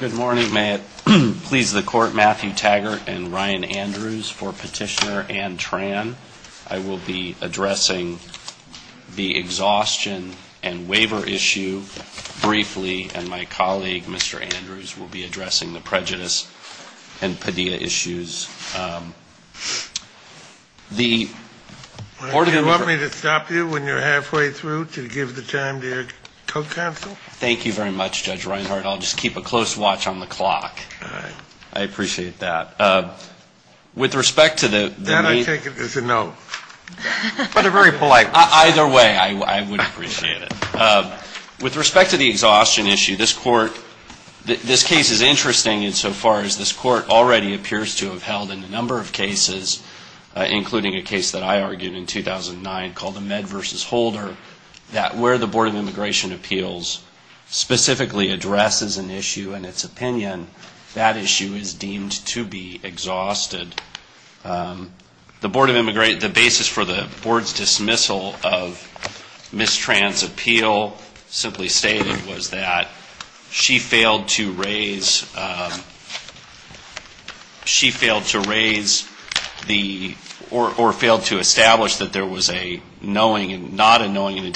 Good morning. May it please the Court, Matthew Taggart and Ryan Andrews for Petitioner Ann Tran. I will be addressing the exhaustion and waiver issue briefly, and my colleague, Mr. Andrews, will be addressing the prejudice and Padilla issues. The order... Do you want me to stop you when you're halfway through to give the time to your co-counsel? Thank you very much, Judge Reinhardt. I'll just keep a close watch on the clock. I appreciate that. With respect to the... Then I take it as a no. But a very polite question. Either way, I would appreciate it. With respect to the exhaustion issue, this Court... This case is interesting insofar as this Court already appears to have held a number of cases, including a case that I argued in 2009 called the Med v. Holder, where the Board of Immigration Appeals specifically addresses an issue and its opinion. That issue is deemed to be exhausted. The Board of Immigration... The basis for the Board's dismissal of Ms. Tran's appeal simply stated was that she failed to raise... She failed to raise the... Or failed to establish that there was a knowing and... Fail in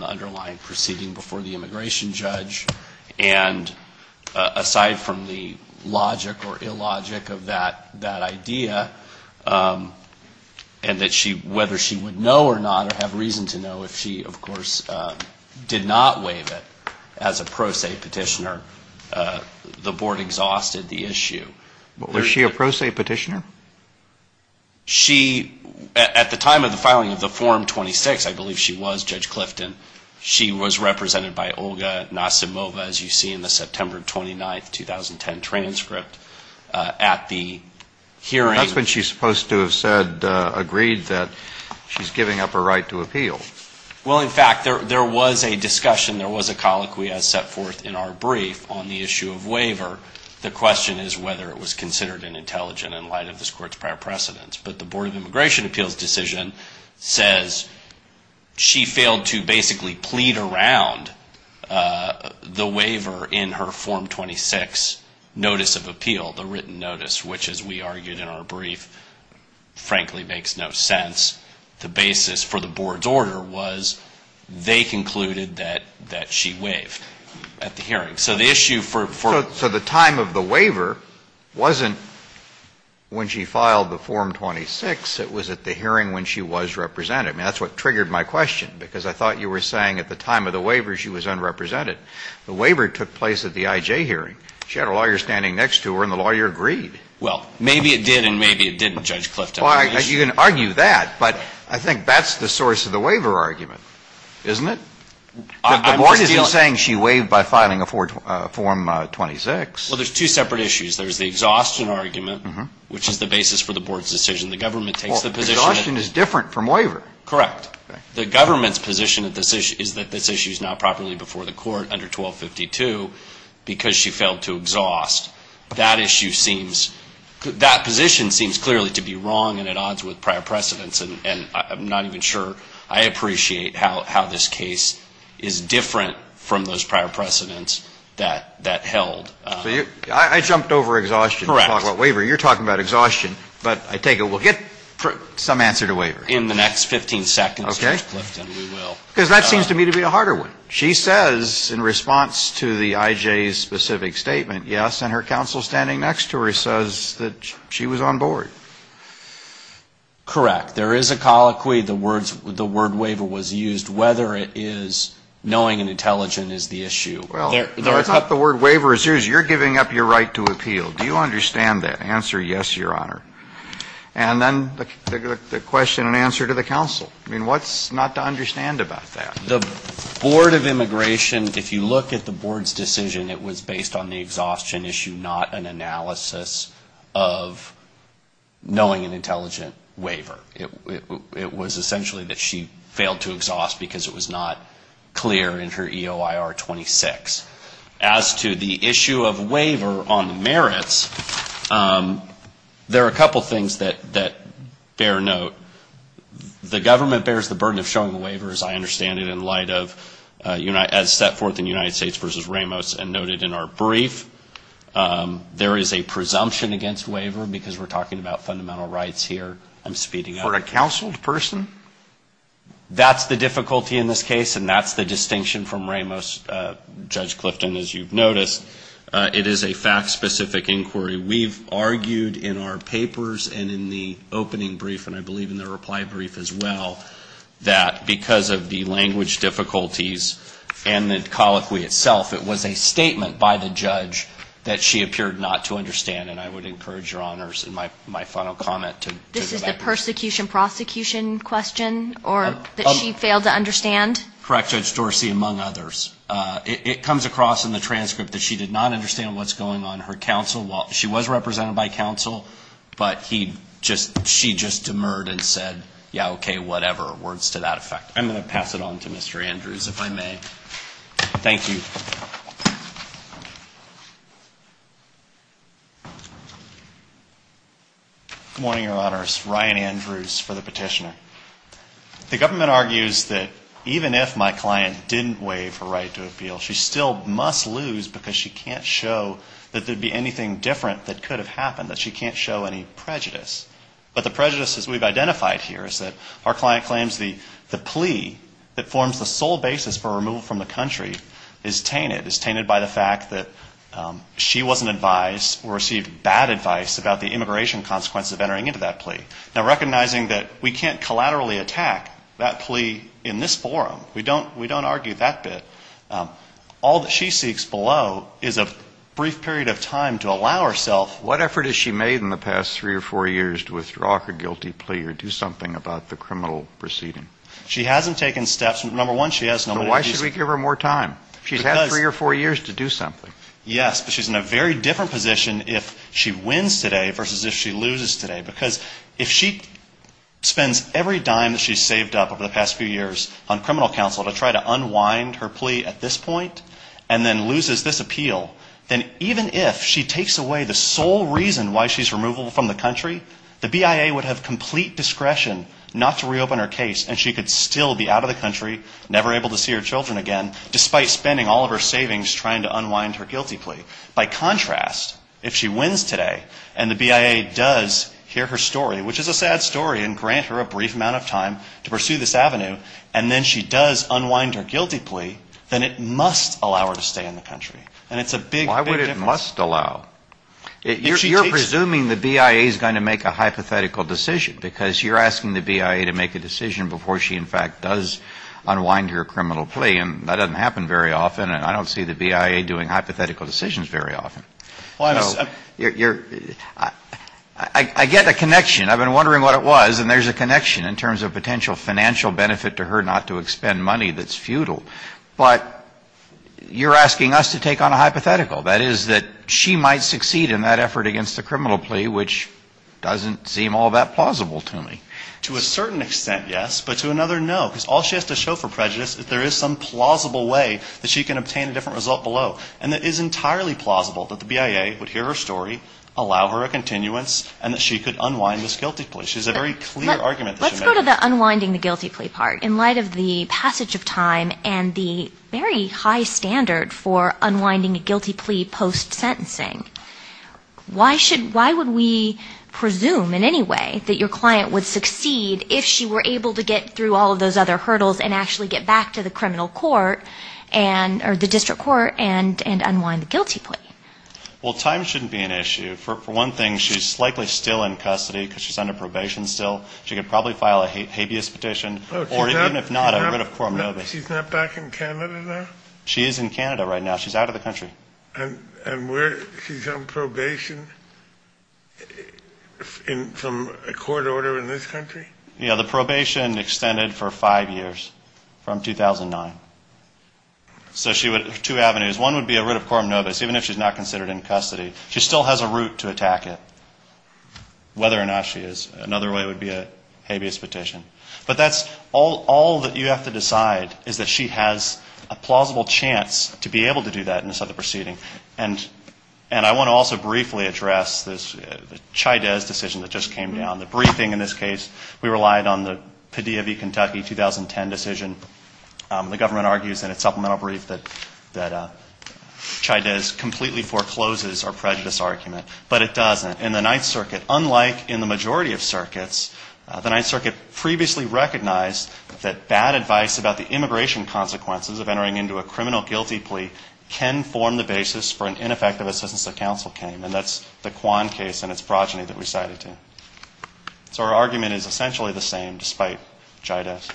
the underlying proceeding before the immigration judge. And aside from the logic or illogic of that idea, and that she... Whether she would know or not, or have reason to know if she, of course, did not waive it as a pro se petitioner, the Board exhausted the issue. Was she a pro se petitioner? She... At the time of the filing of the Form 26, I believe she was Judge Clifton. She was represented by Olga Nasimova, as you see in the September 29, 2010 transcript, at the hearing. That's when she's supposed to have said, agreed that she's giving up her right to appeal. Well, in fact, there was a discussion, there was a colloquy as set forth in our brief on the issue of waiver. The question is whether it was considered an intelligent in light of this court's prior precedence. But the Board of Immigration Appeals decision says she failed to basically plead around the waiver in her Form 26 notice of appeal, the written notice, which as we argued in our brief, frankly, makes no sense. The basis for the Board's order was they concluded that she waived at the hearing. So the issue for... The time of the waiver wasn't when she filed the Form 26, it was at the hearing when she was represented. I mean, that's what triggered my question, because I thought you were saying at the time of the waiver she was unrepresented. The waiver took place at the IJ hearing. She had a lawyer standing next to her and the lawyer agreed. Well, maybe it did and maybe it didn't, Judge Clifton. Well, you can argue that, but I think that's the source of the waiver argument, isn't it? The Board isn't saying she waived by filing a Form 26. Well, there's two separate issues. There's the exhaustion argument, which is the basis for the Board's decision. The government takes the position... Well, exhaustion is different from waiver. Correct. The government's position is that this issue is not properly before the court under 1252 because she failed to exhaust. That issue seems... That position seems clearly to be wrong and at odds with prior precedence and I'm not even sure I appreciate how this case is different from those prior precedence that held. I jumped over exhaustion to talk about waiver. You're talking about exhaustion, but I take it we'll get some answer to waiver. In the next 15 seconds, Judge Clifton, we will. Because that seems to me to be a harder one. She says in response to the IJ's specific statement, yes, and her counsel standing next to her says that she was on board. Correct. There is a colloquy, the word waiver was used, whether it is knowing and intelligent is the issue. I thought the word waiver is used. You're giving up your right to appeal. Do you understand that? Answer yes, your honor. And then the question and answer to the counsel. I mean, what's not to understand about that? The Board of Immigration, if you look at the Board's decision, it was based on the exhaustion issue, not an analysis of knowing and intelligent waiver. It was essentially that she failed to exhaust because it was not clear in her EOIR 26. As to the issue of waiver on merits, there are a couple things that bear note. The government bears the burden of showing the waiver, as I understand it, in light of as set forth in United States v. Ramos and noted in our brief. There is a presumption against waiver because we're talking about fundamental rights here. I'm speeding up. For a counseled person? That's the difficulty in this case and that's the distinction from Ramos. Judge Clifton, as you've noticed, it is a fact-specific inquiry. We've argued in our papers and in the opening brief and I believe in the reply brief as well that because of the language difficulties and the colloquy itself, it was a statement by the judge that she appeared not to understand and I would encourage your honors in my final comment to go back. This is the persecution-prosecution question or that she failed to understand? Correct, Judge Dorsey, among others. It comes across in the transcript that she did not understand what's going on. Her counsel, she was represented by counsel, but she just demurred and said, yeah, okay, whatever, words to that effect. I'm going to pass it on to Mr. Andrews, if I may. Thank you. Good morning, your honors. Ryan Andrews for the petitioner. The government argues that even if my client didn't waive her right to appeal, she still must lose because she can't show that there'd be anything different that could have happened, that she can't show any prejudice. But the prejudice as we've identified here is that our client claims the plea that forms the sole basis for removal from the country is tainted, is tainted by the fact that she wasn't advised or received bad advice about the immigration consequences of entering into that plea. Now, recognizing that we can't collaterally attack that plea in this forum, we don't argue that bit, all that she seeks below is a brief period of time to allow herself. What effort has she made in the past three or four years to withdraw her guilty plea or do something about the criminal proceeding? She hasn't taken steps. Number one, she has no money. So why should we give her more time? She's had three or four years to do something. Yes. But she's in a very different position if she wins today versus if she loses today. Because if she spends every dime that she's saved up over the past few years on criminal counsel to try to unwind her plea at this point, and then loses this appeal, then even if she takes away the sole reason why she's removable from the country, the BIA would Number four, she hasn't taken steps. Number five, she hasn't taken steps. Number six, she hasn't taken steps. out of the country, never able to see her children again, despite spending all of her savings trying to unwind her guilty plea. By contrast, if she wins today and the BIA does hear her story, which is a sad story, and grant her a brief amount of time to pursue this avenue, and then she does unwind her guilty plea, then it must allow her to stay in the country. And it's a big, big difference. Why would it must allow? If she takes... You're presuming the BIA is going to make a hypothetical decision because you're asking the BIA to make a decision before she, in fact, does unwind her criminal plea. And that doesn't happen very often, and I don't see the BIA doing hypothetical decisions very often. Plano, you're... I get the connection. I've been wondering what it was, and there's a connection in terms of potential financial benefit to her not to expend money that's futile. But you're asking us to take on a hypothetical, that is, that she might succeed in that effort against the criminal plea, which doesn't seem all that plausible to me. To a certain extent, yes. But to another, no. Because all she has to show for prejudice is there is some plausible way that she can obtain a different result below. And it is entirely plausible that the BIA would hear her story, allow her a continuance, and that she could unwind this guilty plea. She has a very clear argument that she made. Let's go to the unwinding the guilty plea part. In light of the passage of time and the very high standard for unwinding a guilty plea post-sentencing, why would we presume in any way that your client would succeed if she were able to get through all of those other hurdles and actually get back to the criminal court, or the district court, and unwind the guilty plea? Well, time shouldn't be an issue. For one thing, she's likely still in custody because she's under probation still. She could probably file a habeas petition, or even if not, a writ of coram nobis. She's not back in Canada now? She is in Canada right now. She's out of the country. And she's on probation from a court order in this country? Yeah, the probation extended for five years, from 2009. So she would have two avenues. One would be a writ of coram nobis, even if she's not considered in custody. She still has a route to attack it, whether or not she is. Another way would be a habeas petition. But that's all that you have to decide, is that she has a plausible chance to be able to do that in this other proceeding. And I want to also briefly address the Chydez decision that just came down. The briefing in this case, we relied on the Padilla v. Kentucky 2010 decision. The government argues in its supplemental brief that Chydez completely forecloses our prejudice argument. But it doesn't. In the Ninth Circuit, unlike in the majority of circuits, the Ninth Circuit previously recognized that bad advice about the immigration consequences of entering into a criminal guilty plea can form the basis for an ineffective assistance that counsel came. And that's the Kwan case and its progeny that we cited here. So our argument is essentially the same, despite Chydez.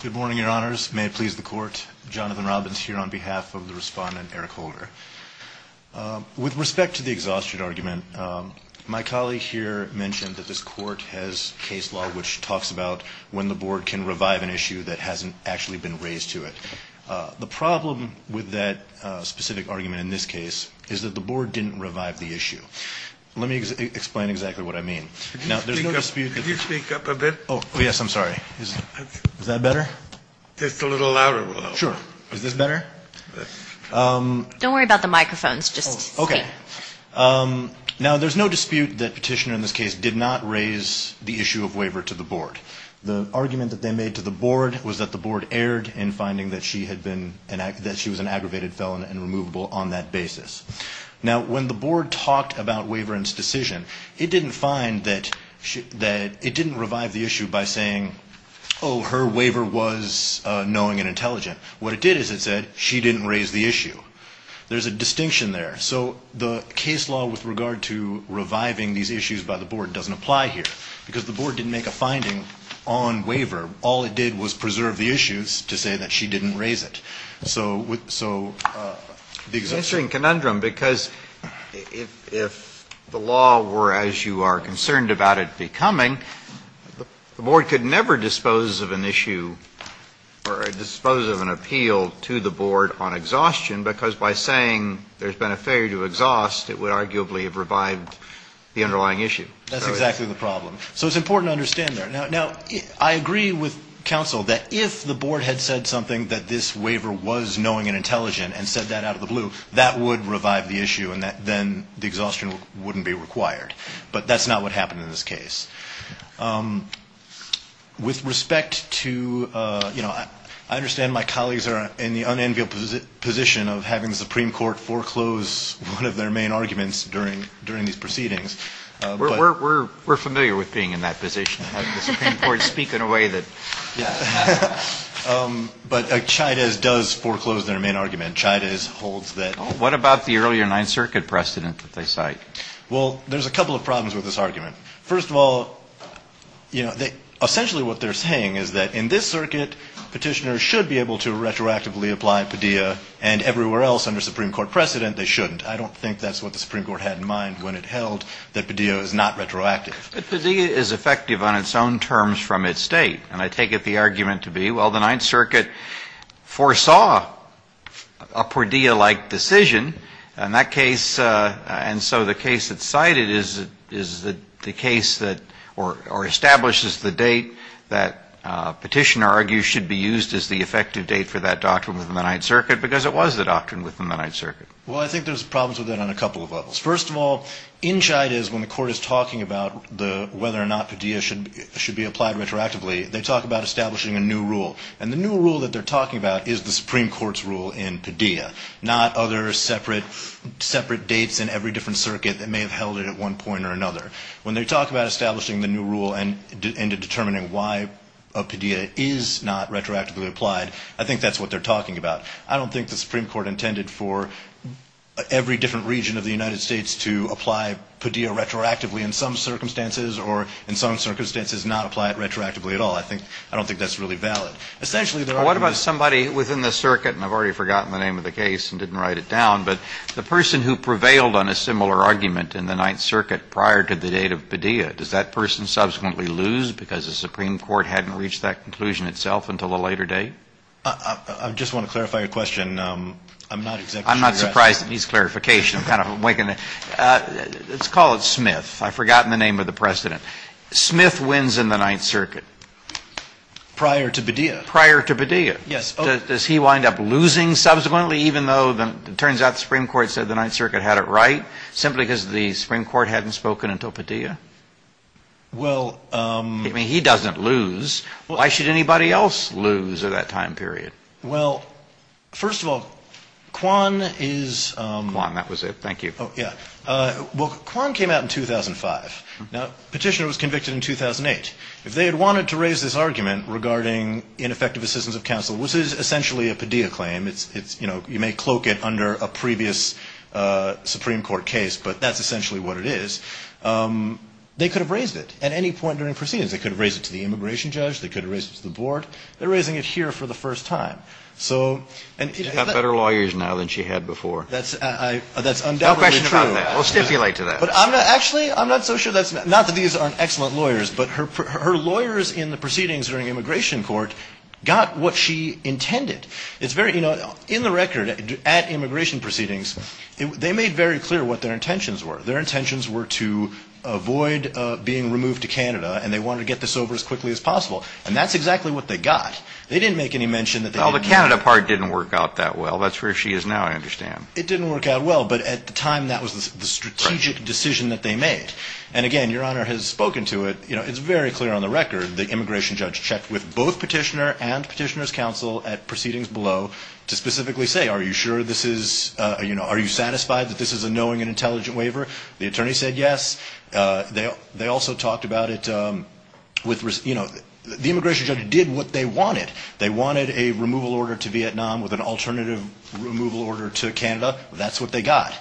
Good morning, Your Honors. May it please the Court. Jonathan Robbins here on behalf of the Respondent, Eric Holder. With respect to the exhaustion argument, my colleague here mentioned that this Court has case law which talks about when the Board can revive an issue that hasn't actually been raised to it. The problem with that specific argument in this case is that the Board didn't revive the issue. Let me explain exactly what I mean. Now, there's no dispute that... Could you speak up a bit? Oh, yes. I'm sorry. Is that better? Just a little louder will help. Sure. Is this better? Don't worry about the microphones. Just speak. Okay. Now, there's no dispute that Petitioner in this case did not raise the issue of waiver to the Board. The argument that they made to the Board was that the Board erred in finding that she was an aggravated felon and removable on that basis. Now, when the Board talked about Waverand's decision, it didn't find that... We're going to review it. We're going to review it. We're going to review it. We're going to review it. Oh, her waiver was knowing and intelligent. What it did is it said she didn't raise the issue. There's a distinction there. So the case law with regard to reviving these issues by the Board doesn't apply here, because the Board didn't make a finding on waiver. All it did was preserve the issues to say that she didn't raise it. So... Answering conundrum, because if the law were as you are concerned about it becoming, the We're going to review it. Oh, I'm sorry. I'm sorry. I didn't understand your question. issue, or dispose of an appeal to the Board on exhaustion, because by saying there's been a failure to exhaust, it would arguably have revived the underlying issue. That's exactly the problem. So it's important to understand there. Now, I agree with counsel that if the Board had said something that this waiver was knowing and intelligent and said that out of the blue, that would revive the issue, and then the exhaustion wouldn't be required. the Board didn't make a finding on waiver. All it did was preserve the issues to say that she didn't raise it. I understand my colleagues are in the unenviable position of having the Supreme Court foreclose one of their main arguments during these proceedings. We're familiar with being in that position, having the Supreme Court speak in a way that... Yeah. But Chávez does foreclose their main argument. Chávez holds that... What about the earlier Ninth Circuit precedent that they cite? Well, there's a couple of problems with this argument. and intelligent and said that out of the blue, that would revive the issue. should be able to retroactively apply PADIA, and everywhere else under Supreme Court precedent, they shouldn't. I don't think that's what the Supreme Court had in mind when it held that PADA is not retroactive. And I take it the argument to be, well, the Ninth Circuit foresaw a PADIA-like decision, and that case, and so the case that's cited is the case that, or establishes the date that it was approved by the Supreme Court. That petition, I argue, should be used as the effective date for that doctrine within the Ninth Circuit, because it was the doctrine within the Ninth Circuit. Well, I think there's problems with that on a couple of levels. First of all, inside is when the Court is talking about whether or not PADIA should be applied retroactively, they talk about establishing a new rule, and the new rule that they're talking about is the Supreme Court's rule in PADIA, not other separate dates in every different circuit that may have held it at one point or another. When they talk about establishing the new rule and determining why a PADIA is not retroactively applied, I think that's what they're talking about. I don't think the Supreme Court intended for every different region of the United States to apply PADIA retroactively in some circumstances, or in some circumstances not apply it retroactively at all. I think, I don't think that's really valid. Essentially, the argument is. Well, what about somebody within the circuit, and I've already forgotten the name of the case and didn't write it down, but the person who prevailed on a similar argument in the Ninth Circuit prior to the date of PADIA, does that person subsequently lose because the Supreme Court hadn't reached that conclusion itself until a later date? I just want to clarify your question. I'm not exactly sure you're asking. I'm not surprised it needs clarification. I'm kind of waking up. Let's call it Smith. I've forgotten the name of the precedent. Smith wins in the Ninth Circuit. Prior to PADIA. Prior to PADIA. Does he wind up losing subsequently, even though it turns out the Supreme Court said the Ninth Circuit had it right, simply because the Supreme Court hadn't spoken until PADIA? Well. I mean, he doesn't lose. Why should anybody else lose at that time period? Well, first of all, Kwan is. Kwan, that was it. Thank you. Oh, yeah. Well, Kwan came out in 2005. Now, Petitioner was convicted in 2008. If they had wanted to raise this argument regarding ineffective assistance of counsel, which is essentially a PADIA claim. You may cloak it under a previous Supreme Court case, but that's essentially what it is. They could have raised it at any point during proceedings. They could have raised it to the immigration judge. They could have raised it to the board. They're raising it here for the first time. She's got better lawyers now than she had before. That's undoubtedly true. No question about that. We'll stipulate to that. Actually, I'm not so sure. Not that these aren't excellent lawyers, but her lawyers in the proceedings during immigration court got what she intended. In the record at immigration proceedings, they made very clear what their intentions were. Their intentions were to avoid being removed to Canada, and they wanted to get this over as quickly as possible. And that's exactly what they got. They didn't make any mention that they didn't want to. Well, the Canada part didn't work out that well. That's where she is now, I understand. It didn't work out well, but at the time, that was the strategic decision that they made. And, again, Your Honor has spoken to it. It's very clear on the record. The immigration judge checked with both petitioner and petitioner's counsel at proceedings below to specifically say, are you sure this is, you know, are you satisfied that this is a knowing and intelligent waiver? The attorney said yes. They also talked about it with, you know, the immigration judge did what they wanted. They wanted a removal order to Vietnam with an alternative removal order to Canada. That's what they got.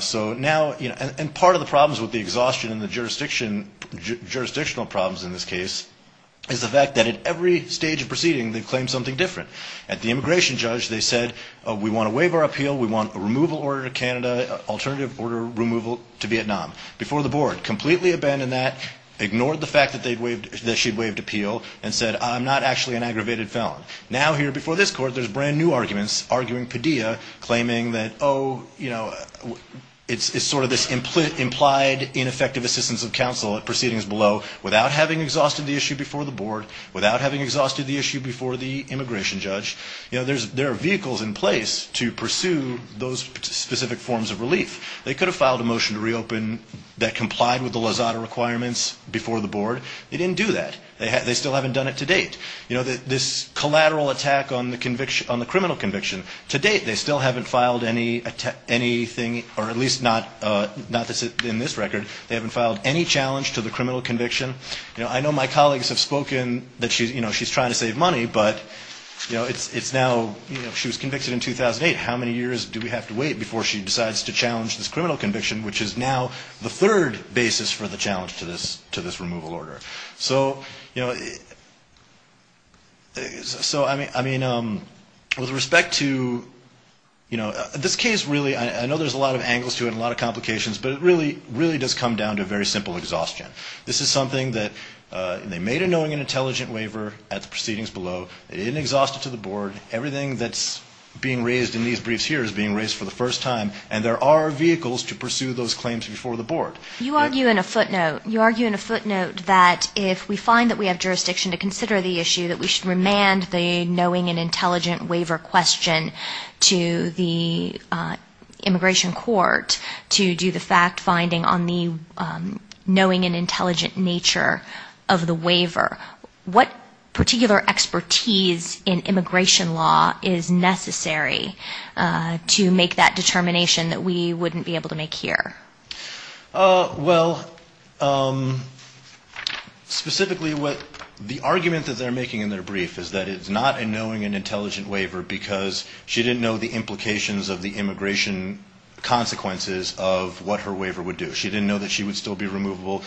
So now, you know, and part of the problems with the exhaustion in the jurisdiction, jurisdictional problems in this case, is the fact that at every stage of proceeding, they claim something different. At the immigration judge, they said, we want a waiver appeal. We want a removal order to Canada, alternative order removal to Vietnam. Before the board, completely abandoned that, ignored the fact that they'd waived, that she'd waived appeal, and said, I'm not actually an aggravated felon. Now here before this court, there's brand new arguments, arguing Padilla, claiming that, oh, you know, it's sort of this implied ineffective assistance of counsel at proceedings below, without having exhausted the issue before the board, without having exhausted the issue before the immigration judge. You know, there are vehicles in place to pursue those specific forms of relief. They could have filed a motion to reopen that complied with the Lozada requirements before the board. They didn't do that. They still haven't done it to date. You know, this collateral attack on the criminal conviction, to date, they still haven't filed anything, or at least not in this record, they haven't filed any challenge to the criminal conviction. You know, I know my colleagues have spoken that, you know, she's trying to save money, but, you know, it's now, you know, she was convicted in 2008. How many years do we have to wait before she decides to challenge this criminal conviction, which is now the third basis for the challenge to this removal order? So, you know, so I mean, with respect to, you know, this case really, I know there's a lot of angles to it, a lot of complications, but it really, really does come down to very simple exhaustion. This is something that they made a knowing and intelligent waiver at the proceedings below. It didn't exhaust it to the board. Everything that's being raised in these briefs here is being raised for the first time, You argue in a footnote, you argue in a footnote that if we find that we have jurisdiction to consider the issue, that we should remand the knowing and intelligent waiver question to the immigration court to do the fact finding on the knowing and intelligent nature of the waiver. What particular expertise in immigration law is necessary to make that determination that we wouldn't be able to make here? Well, specifically, the argument that they're making in their brief is that it's not a knowing and intelligent waiver because she didn't know the implications of the immigration consequences of what her waiver would do. She didn't know that she would still be removable.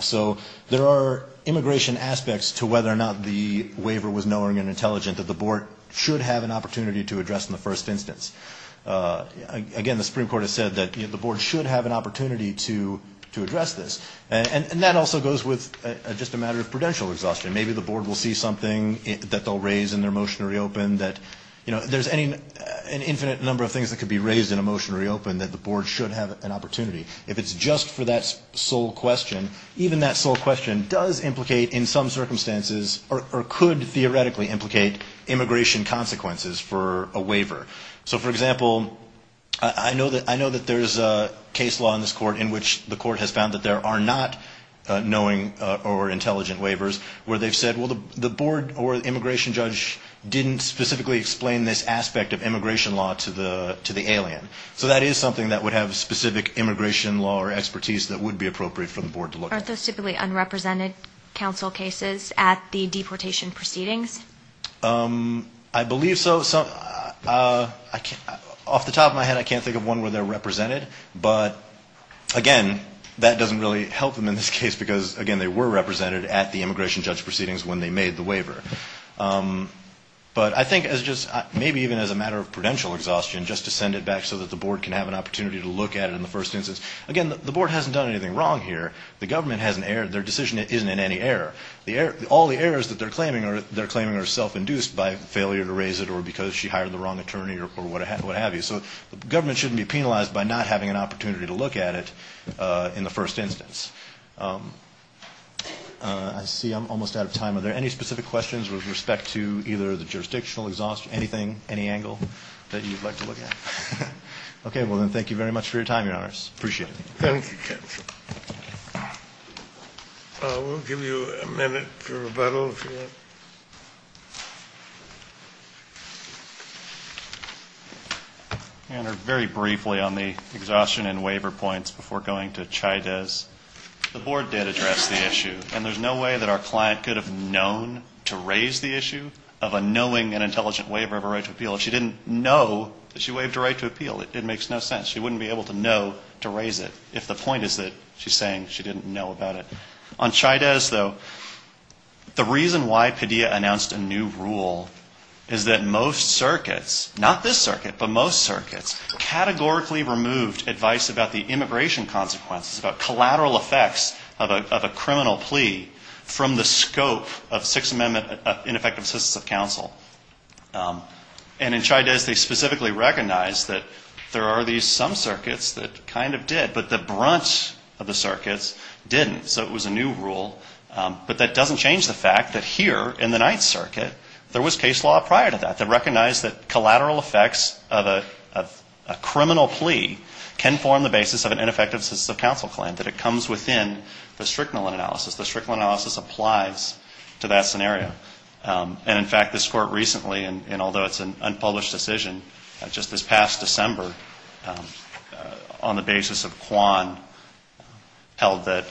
So there are immigration aspects to whether or not the waiver was knowing and intelligent that the board should have an opportunity to address in the first instance. Again, the Supreme Court has said that the board should have an opportunity to address this. And that also goes with just a matter of prudential exhaustion. Maybe the board will see something that they'll raise in their motion to reopen that, you know, there's an infinite number of things that could be raised in a motion to reopen that the board should have an opportunity. If it's just for that sole question, even that sole question does implicate in some circumstances or could theoretically implicate immigration consequences for a waiver. So, for example, I know that there's a case law in this court in which the court has found that there are not knowing or intelligent waivers where they've said, well, the board or immigration judge didn't specifically explain this aspect of immigration law to the alien. So that is something that would have specific immigration law or expertise that would be appropriate for the board to look at. Aren't those typically unrepresented counsel cases at the deportation proceedings? I believe so. Off the top of my head, I can't think of one where they're represented. But, again, that doesn't really help them in this case because, again, they were represented at the immigration judge proceedings when they made the waiver. But I think as just maybe even as a matter of prudential exhaustion, just to send it back so that the board can have an opportunity to look at it in the first instance. Again, the board hasn't done anything wrong here. The government hasn't erred. Their decision isn't in any error. All the errors that they're claiming are self-induced by failure to raise it or because she hired the wrong attorney or what have you. So the government shouldn't be penalized by not having an opportunity to look at it in the first instance. I see I'm almost out of time. Are there any specific questions with respect to either the jurisdictional exhaustion, anything, any angle that you'd like to look at? Okay. Well, then, thank you very much for your time, Your Honors. Appreciate it. Thank you, counsel. We'll give you a minute for rebuttal, if you want. Your Honor, very briefly on the exhaustion and waiver points before going to Chaydez. The board did address the issue, and there's no way that our client could have known to raise the issue of a knowing and intelligent waiver of a right to appeal if she didn't know that she waived a right to appeal. It makes no sense. She wouldn't be able to know to raise it if the point is that she's saying she didn't know about it. On Chaydez, though, the reason why Padilla announced a new rule is that most circuits, not this circuit, but most circuits categorically removed advice about the immigration consequences, about collateral effects of a criminal plea from the scope of Sixth Amendment ineffective assistance of counsel. And in Chaydez, they specifically recognized that there are some circuits that kind of did, but the brunt of the circuits didn't. So it was a new rule. But that doesn't change the fact that here in the Ninth Circuit, there was case law prior to that that recognized that collateral effects of a criminal plea can form the basis of an ineffective assistance of counsel claim, that it comes within the Strickland analysis. The Strickland analysis applies to that scenario. And, in fact, this Court recently, and although it's an unpublished decision, just this past December, on the basis of Kwan, held that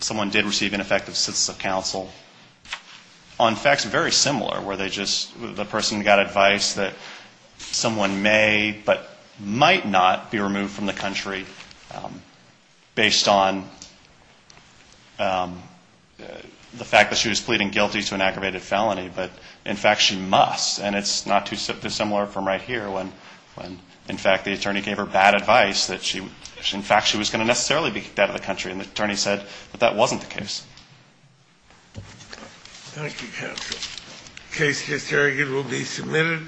someone did receive ineffective assistance of counsel on facts very similar, where they just, the person got advice that someone may, but might not be removed from the country based on the fact that she was pleading guilty to an aggravated felony. But, in fact, she must. And it's not too similar from right here, when, in fact, the attorney gave her bad advice, that she, in fact, she was going to necessarily be kicked out of the country. And the attorney said that that wasn't the case. Thank you, counsel. The case here will be submitted.